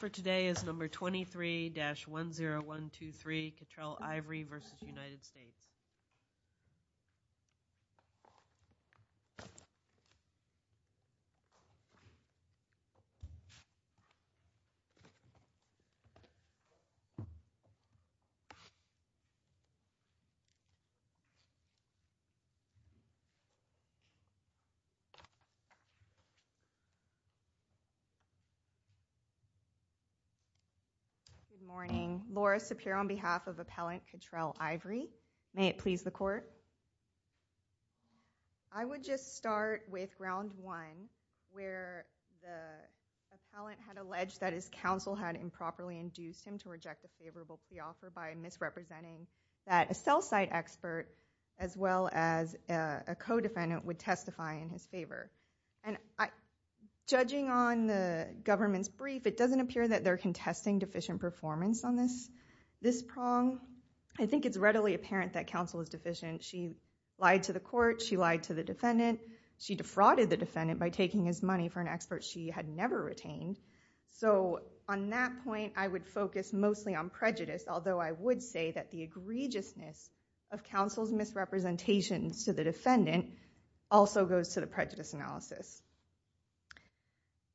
for today is number 23-10123 Cattrell Ivory v. United States. Good morning. Laura Sapir on behalf of Appellant Cattrell Ivory. May it please the court. I would just start with round one where the appellant had alleged that his counsel had improperly induced him to reject a favorable pre-offer by misrepresenting that a cell site expert as well as a co-defendant would testify in his favor. And judging on the government's brief, it doesn't appear that they're contesting deficient performance on this prong. I think it's readily apparent that counsel is deficient. She lied to the court. She lied to the defendant. She defrauded the defendant by taking his money for an expert she had never retained. So on that point, I would focus mostly on prejudice, although I would say that the egregiousness of counsel's misrepresentations to the defendant also goes to the prejudice analysis.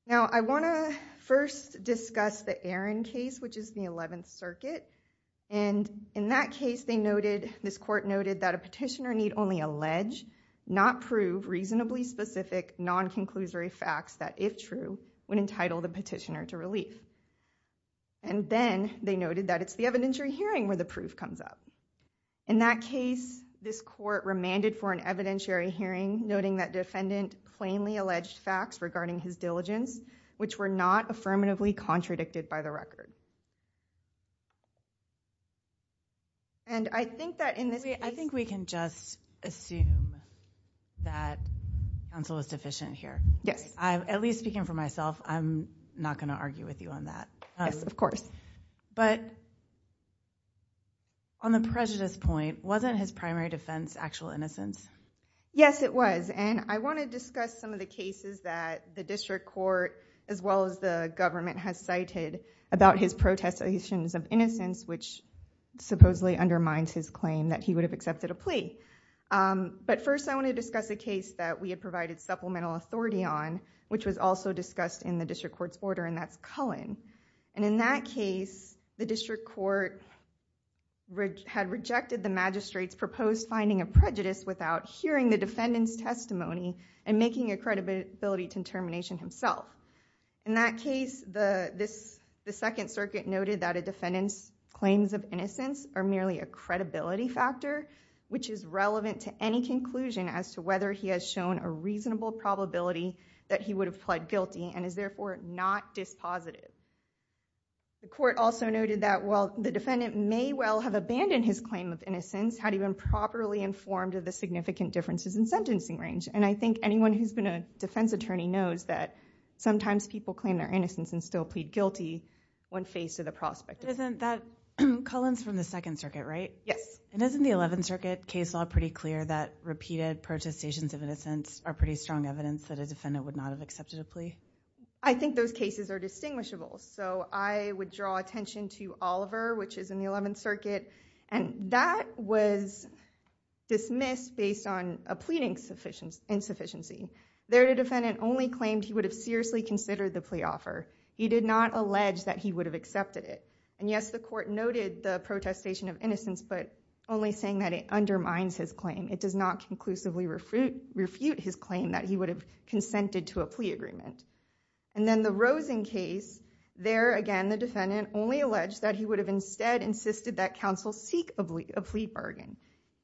Now, I want to first discuss the Aaron case, which is the 11th Circuit. And in that case, this court noted that a petitioner need only allege, not prove, reasonably specific non-conclusory facts that, if true, would entitle the petitioner to relief. And then they noted that it's the evidentiary hearing where the proof comes up. In that case, this court remanded for an evidentiary hearing, noting that defendant plainly alleged facts regarding his diligence, which were not affirmatively contradicted by the record. I think we can just assume that counsel is deficient here. Yes. At least speaking for myself, I'm not going to argue with you on that. Yes, of course. But on the prejudice point, wasn't his primary defense actual innocence? Yes, it was. And I want to discuss some of the cases that the district court, as well as the government, has cited about his protestations of innocence, which supposedly undermines his claim that he would have accepted a plea. But first, I want to discuss a case that we had provided supplemental authority on, which was also discussed in the district court's order, and that's Cullen. And in that case, the district court had rejected the magistrate's proposed finding of prejudice without hearing the defendant's testimony and making a credibility determination himself. In that case, the Second Circuit noted that a defendant's claims of innocence are merely a credibility factor, which is relevant to any conclusion as to whether he has shown a reasonable probability that he would have pled guilty and is therefore not dispositive. The court also noted that while the defendant may well have abandoned his claim of innocence, had he been properly informed of the significant differences in sentencing range. And I think anyone who's been a defense attorney knows that sometimes people claim their innocence and still plead guilty when faced with a prospect. Cullen's from the Second Circuit, right? Yes. And isn't the Eleventh Circuit case law pretty clear that repeated protestations of innocence are pretty strong evidence that a defendant would not have accepted a plea? I think those cases are distinguishable. So I would draw attention to Oliver, which is in the Eleventh Circuit, and that was dismissed based on a pleading insufficiency. There, the defendant only claimed he would have seriously considered the plea offer. He did not allege that he would have accepted it. And yes, the court noted the protestation of innocence, but only saying that it undermines his claim. It does not conclusively refute his claim that he would have consented to a plea agreement. And then the Rosen case, there again the defendant only alleged that he would have instead insisted that counsel seek a plea bargain.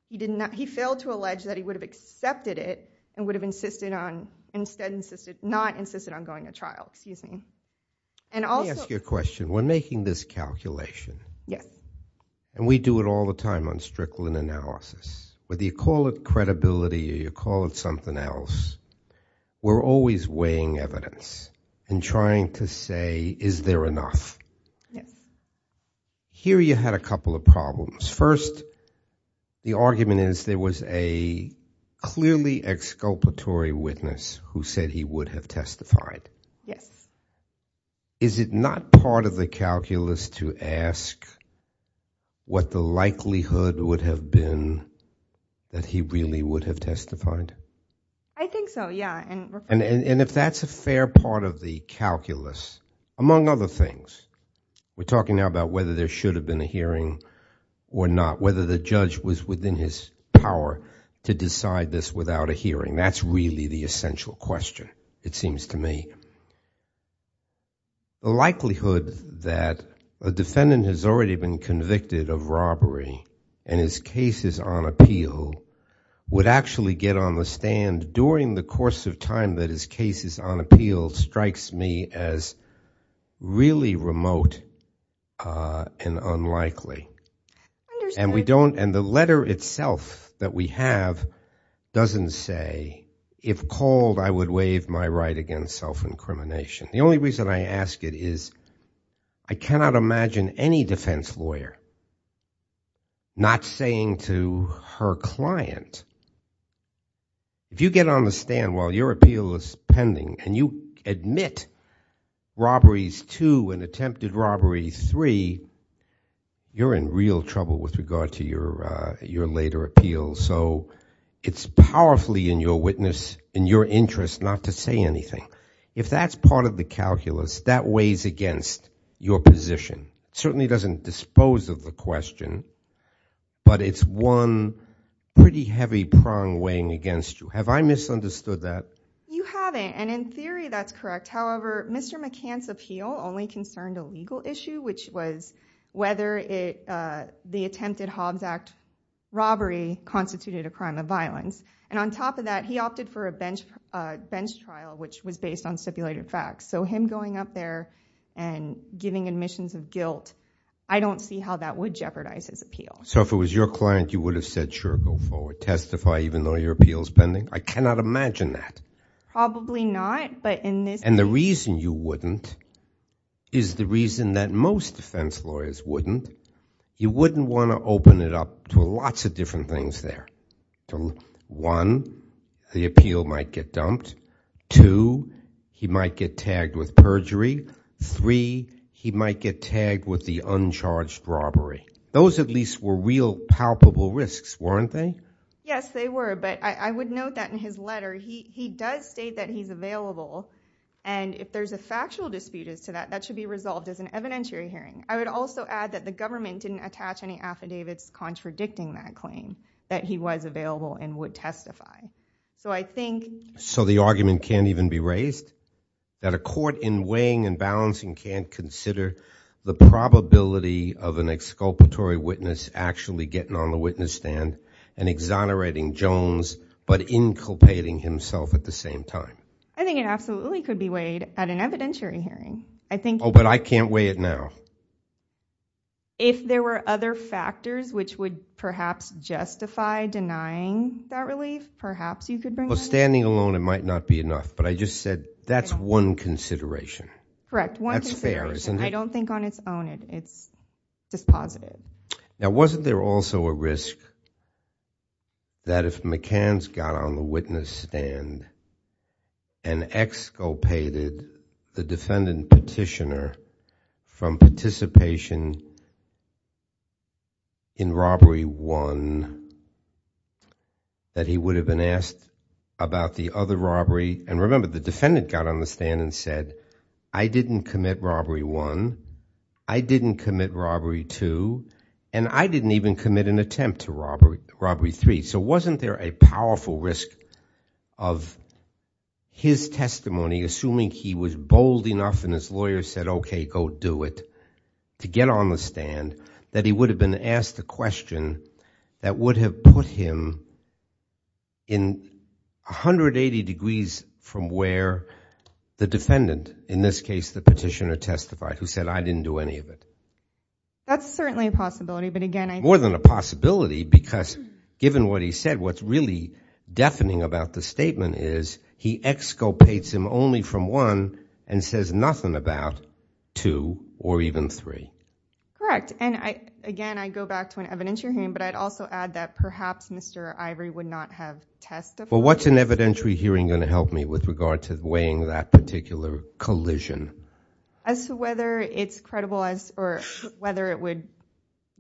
He failed to allege that he would have accepted it and would have insisted on, instead insisted, not insisted on going to trial. Excuse me. Let me ask you a question. We're making this calculation. Yes. And we do it all the time on Strickland analysis. Whether you call it credibility or you call it something else, we're always weighing evidence and trying to say, is there enough? Yes. Here you had a couple of problems. First, the argument is there was a clearly exculpatory witness who said he would have testified. Yes. Is it not part of the calculus to ask what the likelihood would have been that he really would have testified? I think so, yeah. And if that's a fair part of the calculus, among other things, we're talking now about whether there should have been a hearing or not, whether the judge was within his power to decide this without a hearing. That's really the essential question, it seems to me. The likelihood that a defendant has already been convicted of robbery and his case is on appeal would actually get on the stand during the course of time that his case is on appeal strikes me as really remote and unlikely. I understand. And the letter itself that we have doesn't say, if called, I would waive my right against self-incrimination. The only reason I ask it is I cannot imagine any defense lawyer not saying to her client, if you get on the stand while your appeal is pending and you admit robberies two and attempted robberies three, you're in real trouble with regard to your later appeal. So it's powerfully in your witness, in your interest not to say anything. If that's part of the calculus, that weighs against your position. It certainly doesn't dispose of the question, but it's one pretty heavy prong weighing against you. Have I misunderstood that? You haven't, and in theory that's correct. However, Mr. McCann's appeal only concerned a legal issue, which was whether the attempted Hobbs Act robbery constituted a crime of violence. And on top of that, he opted for a bench trial, which was based on stipulated facts. So him going up there and giving admissions of guilt, I don't see how that would jeopardize his appeal. So if it was your client, you would have said, sure, go forward, testify even though your appeal is pending? I cannot imagine that. Probably not. And the reason you wouldn't is the reason that most defense lawyers wouldn't. You wouldn't want to open it up to lots of different things there. One, the appeal might get dumped. Two, he might get tagged with perjury. Three, he might get tagged with the uncharged robbery. Those at least were real palpable risks, weren't they? Yes, they were. But I would note that in his letter, he does state that he's available. And if there's a factual dispute as to that, that should be resolved as an evidentiary hearing. I would also add that the government didn't attach any affidavits contradicting that claim, that he was available and would testify. So I think— So the argument can't even be raised? That a court in weighing and balancing can't consider the probability of an exculpatory witness actually getting on the witness stand and exonerating Jones but inculpating himself at the same time? I think it absolutely could be weighed at an evidentiary hearing. I think— Oh, but I can't weigh it now. If there were other factors which would perhaps justify denying that relief, perhaps you could bring— Well, standing alone, it might not be enough. But I just said that's one consideration. Correct, one consideration. That's fair, isn't it? I don't think on its own it's just positive. Now, wasn't there also a risk that if McCann's got on the witness stand and exculpated the defendant petitioner from participation in robbery one, that he would have been asked about the other robbery? And remember, the defendant got on the stand and said, I didn't commit robbery one, I didn't commit robbery two, and I didn't even commit an attempt to robbery three. So wasn't there a powerful risk of his testimony, assuming he was bold enough and his lawyer said, okay, go do it, to get on the stand, that he would have been asked a question that would have put him in 180 degrees from where the defendant, in this case the petitioner, testified, who said, I didn't do any of it? That's certainly a possibility, but again— More than a possibility, because given what he said, what's really deafening about the statement is he exculpates him only from one and says nothing about two or even three. Correct. And again, I go back to an evidentiary hearing, but I'd also add that perhaps Mr. Ivory would not have testified. Well, what's an evidentiary hearing going to help me with regard to weighing that particular collision? As to whether it's credible or whether it would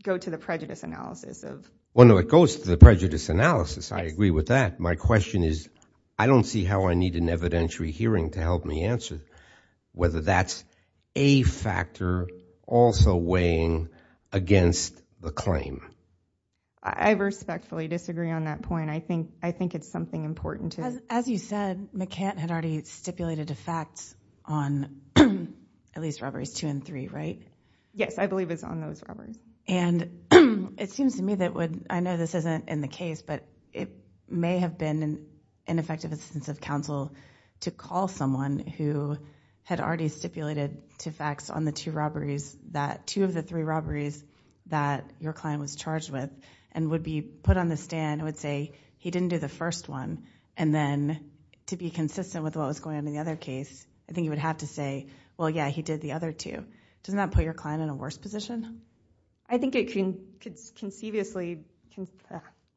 go to the prejudice analysis of— Well, no, it goes to the prejudice analysis. I agree with that. My question is, I don't see how I need an evidentiary hearing to help me answer whether that's a factor also weighing against the claim. I respectfully disagree on that point. I think it's something important to— As you said, McCant had already stipulated a fact on at least robberies two and three, right? Yes, I believe it's on those robberies. And it seems to me that what—I know this isn't in the case, but it may have been an ineffective instance of counsel to call someone who had already stipulated two facts on the two robberies that— two of the three robberies that your client was charged with and would be put on the stand and would say he didn't do the first one and then to be consistent with what was going on in the other case, I think you would have to say, well, yeah, he did the other two. Doesn't that put your client in a worse position? I think it can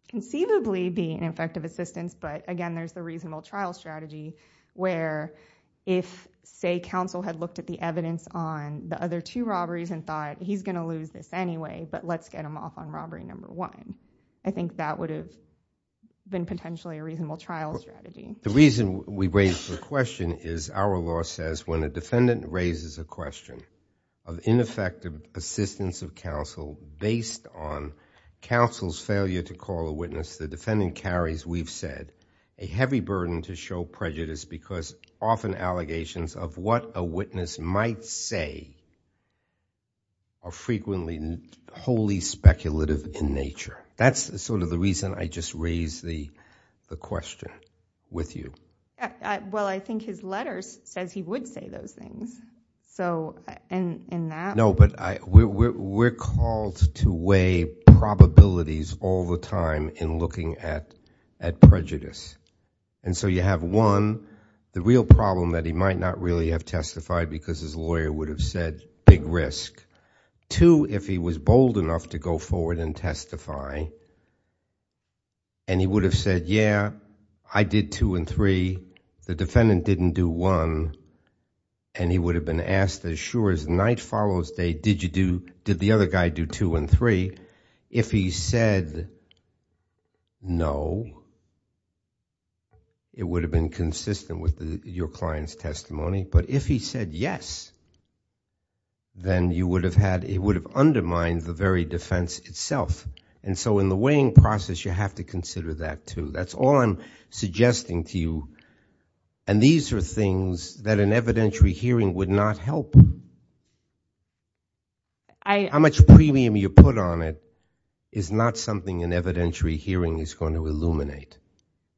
conceivably be an effective assistance, but again, there's the reasonable trial strategy where if, say, counsel had looked at the evidence on the other two robberies and thought he's going to lose this anyway, but let's get him off on robbery number one. I think that would have been potentially a reasonable trial strategy. The reason we raise the question is our law says when a defendant raises a question of ineffective assistance of counsel based on counsel's failure to call a witness, the defendant carries, we've said, a heavy burden to show prejudice because often allegations of what a witness might say are frequently wholly speculative in nature. That's sort of the reason I just raised the question with you. Well, I think his letter says he would say those things. No, but we're called to weigh probabilities all the time in looking at prejudice. And so you have, one, the real problem that he might not really have testified because his lawyer would have said big risk. Two, if he was bold enough to go forward and testify, and he would have said, yeah, I did two and three. The defendant didn't do one. And he would have been asked as sure as night follows day, did the other guy do two and three? If he said no, it would have been consistent with your client's testimony. But if he said yes, then it would have undermined the very defense itself. And so in the weighing process, you have to consider that too. That's all I'm suggesting to you. And these are things that an evidentiary hearing would not help. How much premium you put on it is not something an evidentiary hearing is going to illuminate.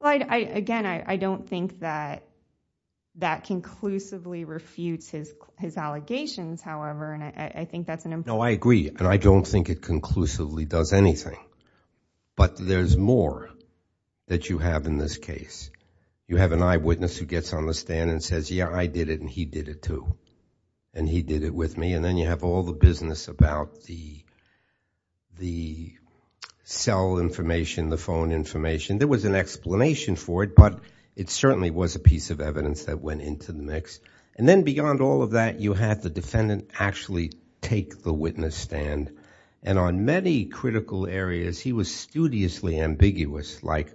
Again, I don't think that that conclusively refutes his allegations, however, and I think that's an important point. No, I agree, and I don't think it conclusively does anything. But there's more that you have in this case. You have an eyewitness who gets on the stand and says, yeah, I did it and he did it too, and he did it with me, and then you have all the business about the cell information, the phone information. There was an explanation for it, but it certainly was a piece of evidence that went into the mix. And then beyond all of that, you had the defendant actually take the witness stand, and on many critical areas he was studiously ambiguous, like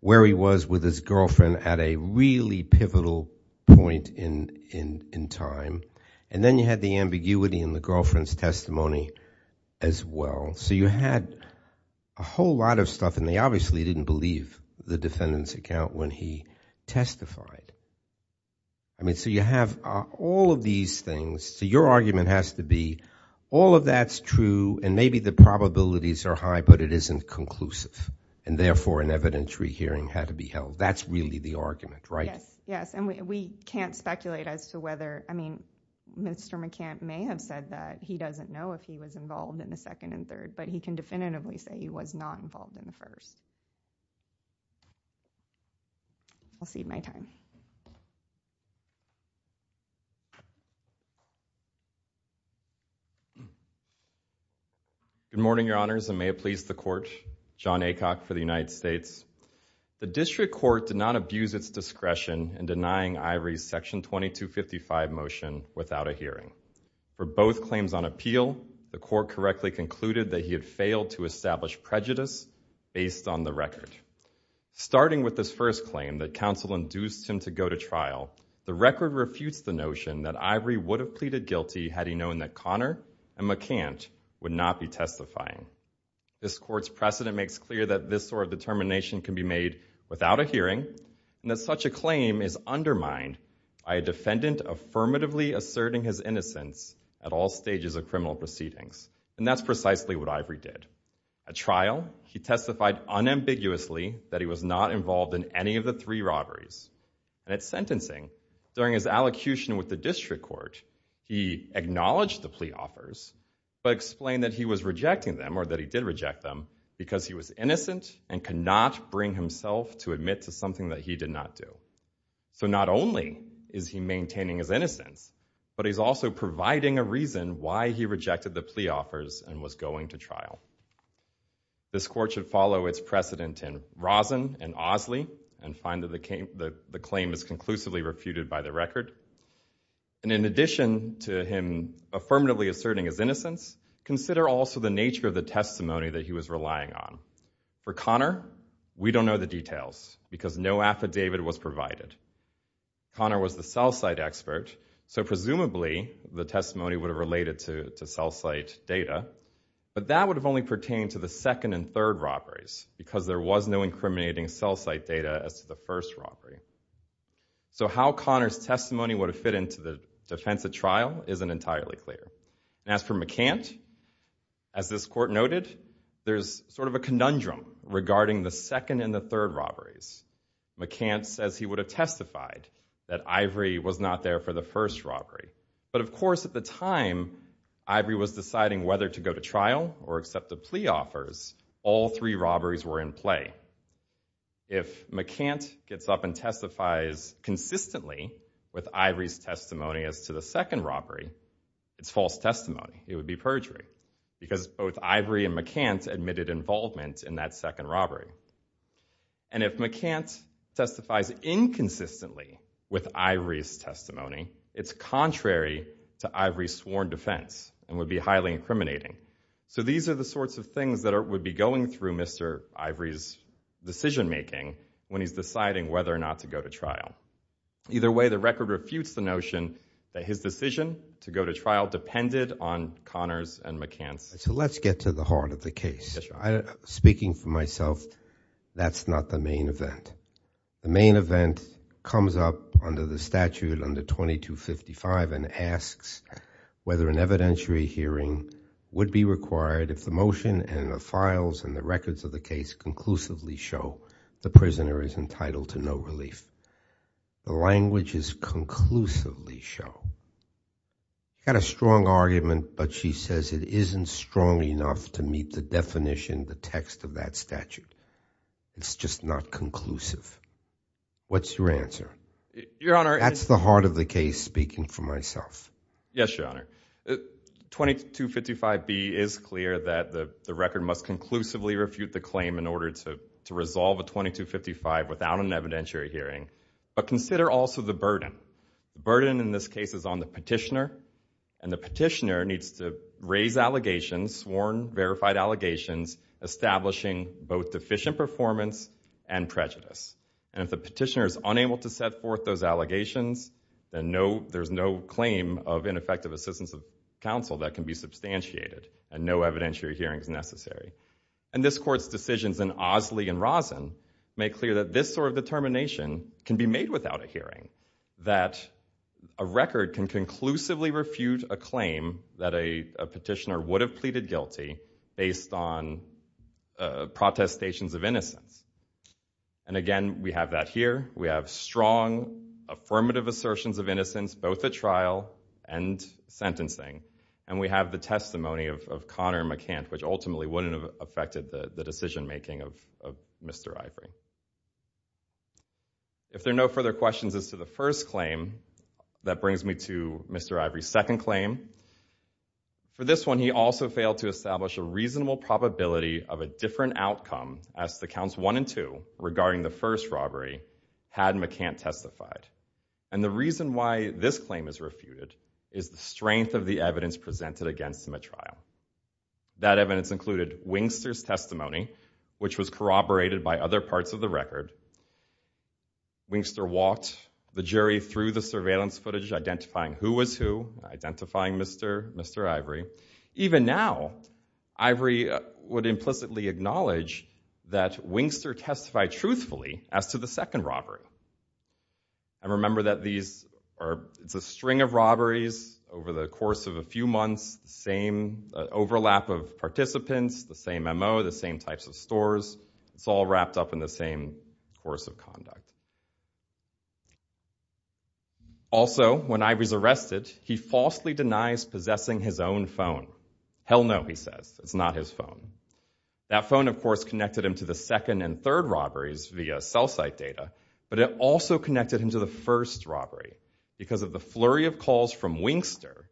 where he was with his girlfriend at a really pivotal point in time. And then you had the ambiguity in the girlfriend's testimony as well. So you had a whole lot of stuff, and they obviously didn't believe the defendant's account when he testified. I mean, so you have all of these things. So your argument has to be all of that's true, and maybe the probabilities are high, but it isn't conclusive, and therefore an evidentiary hearing had to be held. That's really the argument, right? Yes, and we can't speculate as to whether, I mean, Mr. McCann may have said that. He doesn't know if he was involved in the second and third, but he can definitively say he was not involved in the first. I'll cede my time. Good morning, Your Honors, and may it please the Court. John Aycock for the United States. The District Court did not abuse its discretion in denying Ivory's Section 2255 motion without a hearing. For both claims on appeal, the Court correctly concluded that he had failed to establish prejudice based on the record. Starting with this first claim that counsel induced him to go to trial, the record refutes the notion that Ivory would have pleaded guilty had he known that Connor and McCant would not be testifying. This Court's precedent makes clear that this sort of determination can be made without a hearing, and that such a claim is undermined by a defendant affirmatively asserting his innocence at all stages of criminal proceedings, and that's precisely what Ivory did. At trial, he testified unambiguously that he was not involved in any of the three robberies. And at sentencing, during his allocution with the District Court, he acknowledged the plea offers, but explained that he was rejecting them, or that he did reject them, because he was innocent and could not bring himself to admit to something that he did not do. So not only is he maintaining his innocence, but he's also providing a reason why he rejected the plea offers and was going to trial. This Court should follow its precedent in Rosen and Osley and find that the claim is conclusively refuted by the record. And in addition to him affirmatively asserting his innocence, consider also the nature of the testimony that he was relying on. For Connor, we don't know the details, because no affidavit was provided. Connor was the cell site expert, so presumably the testimony would have related to cell site data, but that would have only pertained to the second and third robberies, because there was no incriminating cell site data as to the first robbery. So how Connor's testimony would have fit into the defense at trial isn't entirely clear. As for McCant, as this Court noted, there's sort of a conundrum regarding the second and the third robberies. McCant says he would have testified that Ivory was not there for the first robbery. But of course at the time, Ivory was deciding whether to go to trial or accept the plea offers. All three robberies were in play. If McCant gets up and testifies consistently with Ivory's testimony as to the second robbery, it's false testimony. It would be perjury. Because both Ivory and McCant admitted involvement in that second robbery. And if McCant testifies inconsistently with Ivory's testimony, it's contrary to Ivory's sworn defense and would be highly incriminating. So these are the sorts of things that would be going through Mr. Ivory's decision-making when he's deciding whether or not to go to trial. Either way, the record refutes the notion that his decision to go to trial depended on Connor's and McCant's. So let's get to the heart of the case. Speaking for myself, that's not the main event. The main event comes up under the statute under 2255 and asks whether an evidentiary hearing would be required if the motion and the files and the records of the case conclusively show the prisoner is entitled to no relief. The languages conclusively show. I've got a strong argument, but she says it isn't strong enough to meet the definition, the text of that statute. It's just not conclusive. What's your answer? That's the heart of the case, speaking for myself. Yes, Your Honor. 2255B is clear that the record must conclusively refute the claim in order to resolve a 2255 without an evidentiary hearing. But consider also the burden. The burden in this case is on the petitioner, and the petitioner needs to raise allegations, sworn verified allegations, establishing both deficient performance and prejudice. And if the petitioner is unable to set forth those allegations, then there's no claim of ineffective assistance of counsel that can be substantiated and no evidentiary hearing is necessary. And this Court's decisions in Osley and Rosen make clear that this sort of determination can be made without a hearing, that a record can conclusively refute a claim that a petitioner would have pleaded guilty based on protestations of innocence. And again, we have that here. We have strong, affirmative assertions of innocence, both at trial and sentencing. And we have the testimony of Connor McCant, which ultimately wouldn't have affected the decision-making of Mr. Ivory. If there are no further questions as to the first claim, that brings me to Mr. Ivory's second claim. For this one, he also failed to establish a reasonable probability of a different outcome as to Counts 1 and 2 regarding the first robbery had McCant testified. And the reason why this claim is refuted is the strength of the evidence presented against him at trial. That evidence included Wingster's testimony, which was corroborated by other parts of the record. Wingster walked the jury through the surveillance footage, identifying who was who, identifying Mr. Ivory. Even now, Ivory would implicitly acknowledge that Wingster testified truthfully as to the second robbery. And remember that these are a string of robberies over the course of a few months, the same overlap of participants, the same M.O., the same types of stores. It's all wrapped up in the same course of conduct. Also, when Ivory's arrested, he falsely denies possessing his own phone. Hell no, he says. It's not his phone. That phone, of course, connected him to the second and third robberies via cell site data, but it also connected him to the first robbery because of the flurry of calls from Wingster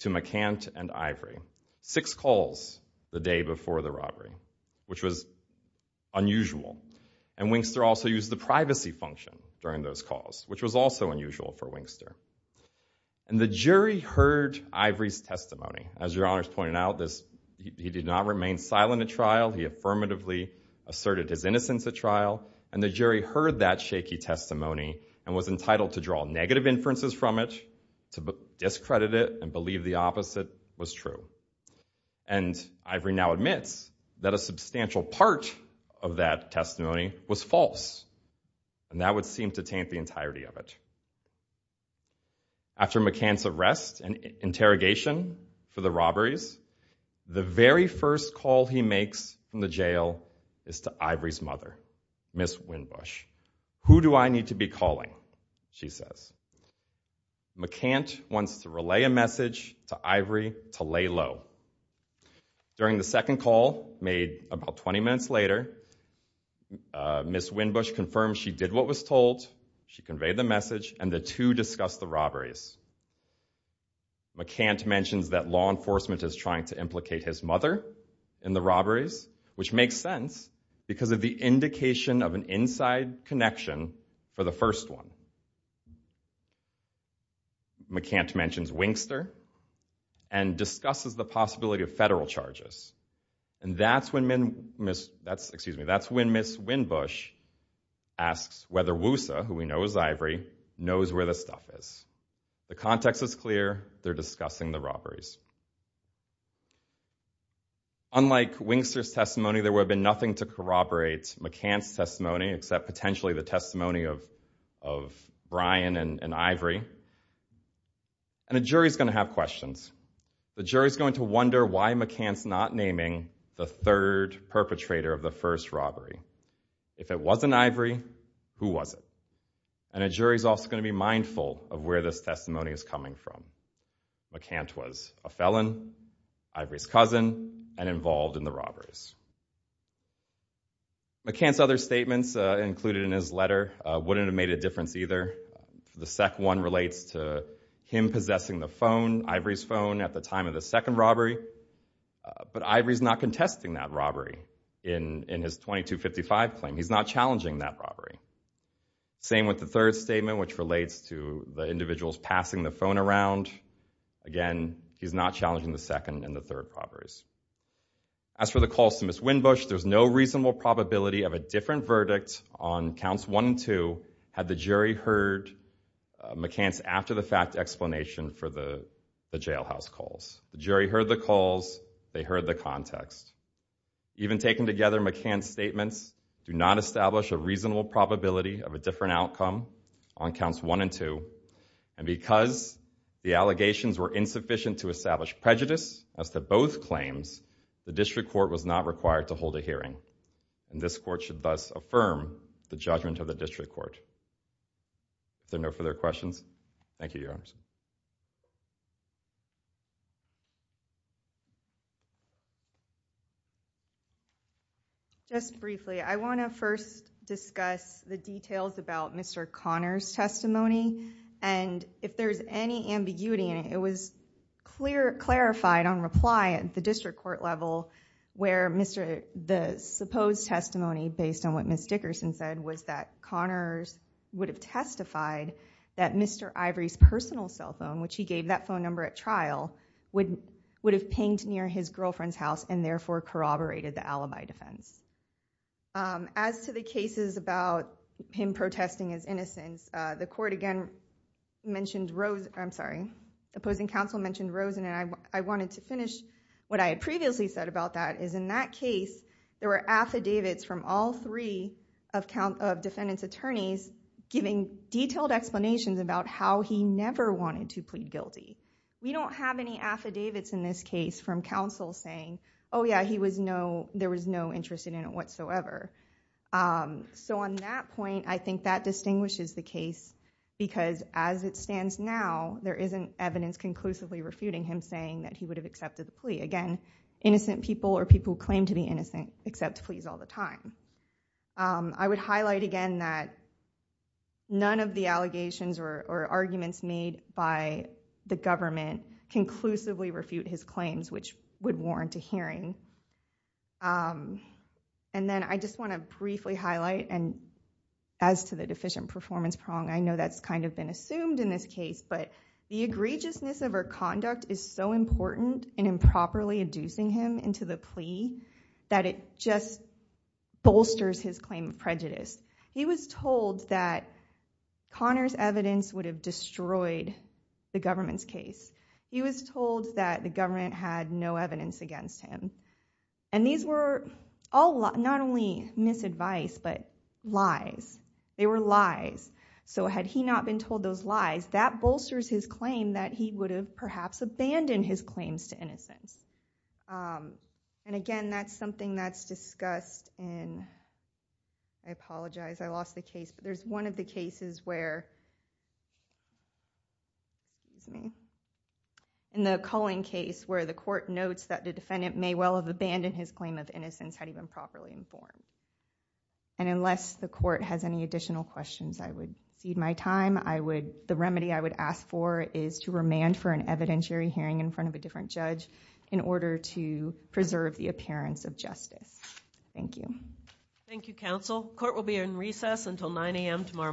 to McCant and Ivory. Six calls the day before the robbery, which was unusual. And Wingster also used the privacy function during those calls, which was also unusual for Wingster. And the jury heard Ivory's testimony. As Your Honors pointed out, he did not remain silent at trial. He affirmatively asserted his innocence at trial. And the jury heard that shaky testimony and was entitled to draw negative inferences from it, to discredit it and believe the opposite was true. And Ivory now admits that a substantial part of that testimony was false, and that would seem to taint the entirety of it. After McCant's arrest and interrogation for the robberies, the very first call he makes from the jail is to Ivory's mother, Miss Winbush. Who do I need to be calling, she says. McCant wants to relay a message to Ivory to lay low. During the second call made about 20 minutes later, Miss Winbush confirmed she did what was told, she conveyed the message, and the two discussed the robberies. McCant mentions that law enforcement is trying to implicate his mother in the robberies, which makes sense because of the indication of an inside connection for the first one. McCant mentions Winkster and discusses the possibility of federal charges. And that's when Miss Winbush asks whether WUSA, who we know is Ivory, knows where the stuff is. The context is clear, they're discussing the robberies. Unlike Winkster's testimony, there would have been nothing to corroborate McCant's testimony, except potentially the testimony of Brian and Ivory. And a jury's going to have questions. The jury's going to wonder why McCant's not naming the third perpetrator of the first robbery. If it wasn't Ivory, who was it? And a jury's also going to be mindful of where this testimony is coming from. McCant was a felon, Ivory's cousin, and involved in the robberies. McCant's other statements included in his letter wouldn't have made a difference either. The second one relates to him possessing the phone, Ivory's phone, at the time of the second robbery. But Ivory's not contesting that robbery in his 2255 claim. He's not challenging that robbery. Same with the third statement, which relates to the individuals passing the phone around. Again, he's not challenging the second and the third robberies. As for the calls to Ms. Winbush, there's no reasonable probability of a different verdict on counts one and two had the jury heard McCant's after-the-fact explanation for the jailhouse calls. The jury heard the calls, they heard the context. Even taken together, McCant's statements do not establish a reasonable probability of a different outcome on counts one and two. And because the allegations were insufficient to establish prejudice as to both claims, the district court was not required to hold a hearing. And this court should thus affirm the judgment of the district court. If there are no further questions, thank you, Your Honors. Just briefly, I want to first discuss the details about Mr. Conner's testimony. And if there's any ambiguity in it, it was clarified on reply at the district court level where the supposed testimony, based on what Ms. Dickerson said, was that Conner would have testified that Mr. Ivory's personal cell phone, which he gave that phone number at trial, would have pinged near his girlfriend's house and therefore corroborated the alibi defense. As to the cases about him protesting his innocence, the opposing counsel mentioned Rosen, and I wanted to finish what I had previously said about that, is in that case, there were affidavits from all three of defendant's attorneys giving detailed explanations about how he never wanted to plead guilty. We don't have any affidavits in this case from counsel saying, oh yeah, there was no interest in it whatsoever. So on that point, I think that distinguishes the case because as it stands now, there isn't evidence conclusively refuting him saying that he would have accepted the plea. Again, innocent people or people who claim to be innocent accept pleas all the time. I would highlight again that none of the allegations or arguments made by the government conclusively refute his claims, which would warrant a hearing. And then I just want to briefly highlight, and as to the deficient performance prong, I know that's kind of been assumed in this case, but the egregiousness of her conduct is so important in improperly inducing him into the plea that it just bolsters his claim of prejudice. He was told that Connor's evidence would have destroyed the government's case. He was told that the government had no evidence against him. And these were not only misadvice, but lies. They were lies. So had he not been told those lies, that bolsters his claim that he would have perhaps abandoned his claims to innocence. And again, that's something that's discussed in, I apologize, I lost the case, but there's one of the cases where, in the Cullen case, where the court notes that the defendant may well have abandoned his claim of innocence had he been properly informed. And unless the court has any additional questions, I would cede my time. The remedy I would ask for is to remand for an evidentiary hearing in front of a different judge in order to preserve the appearance of justice. Thank you. Thank you, counsel. Court will be in recess until 9 a.m. tomorrow morning.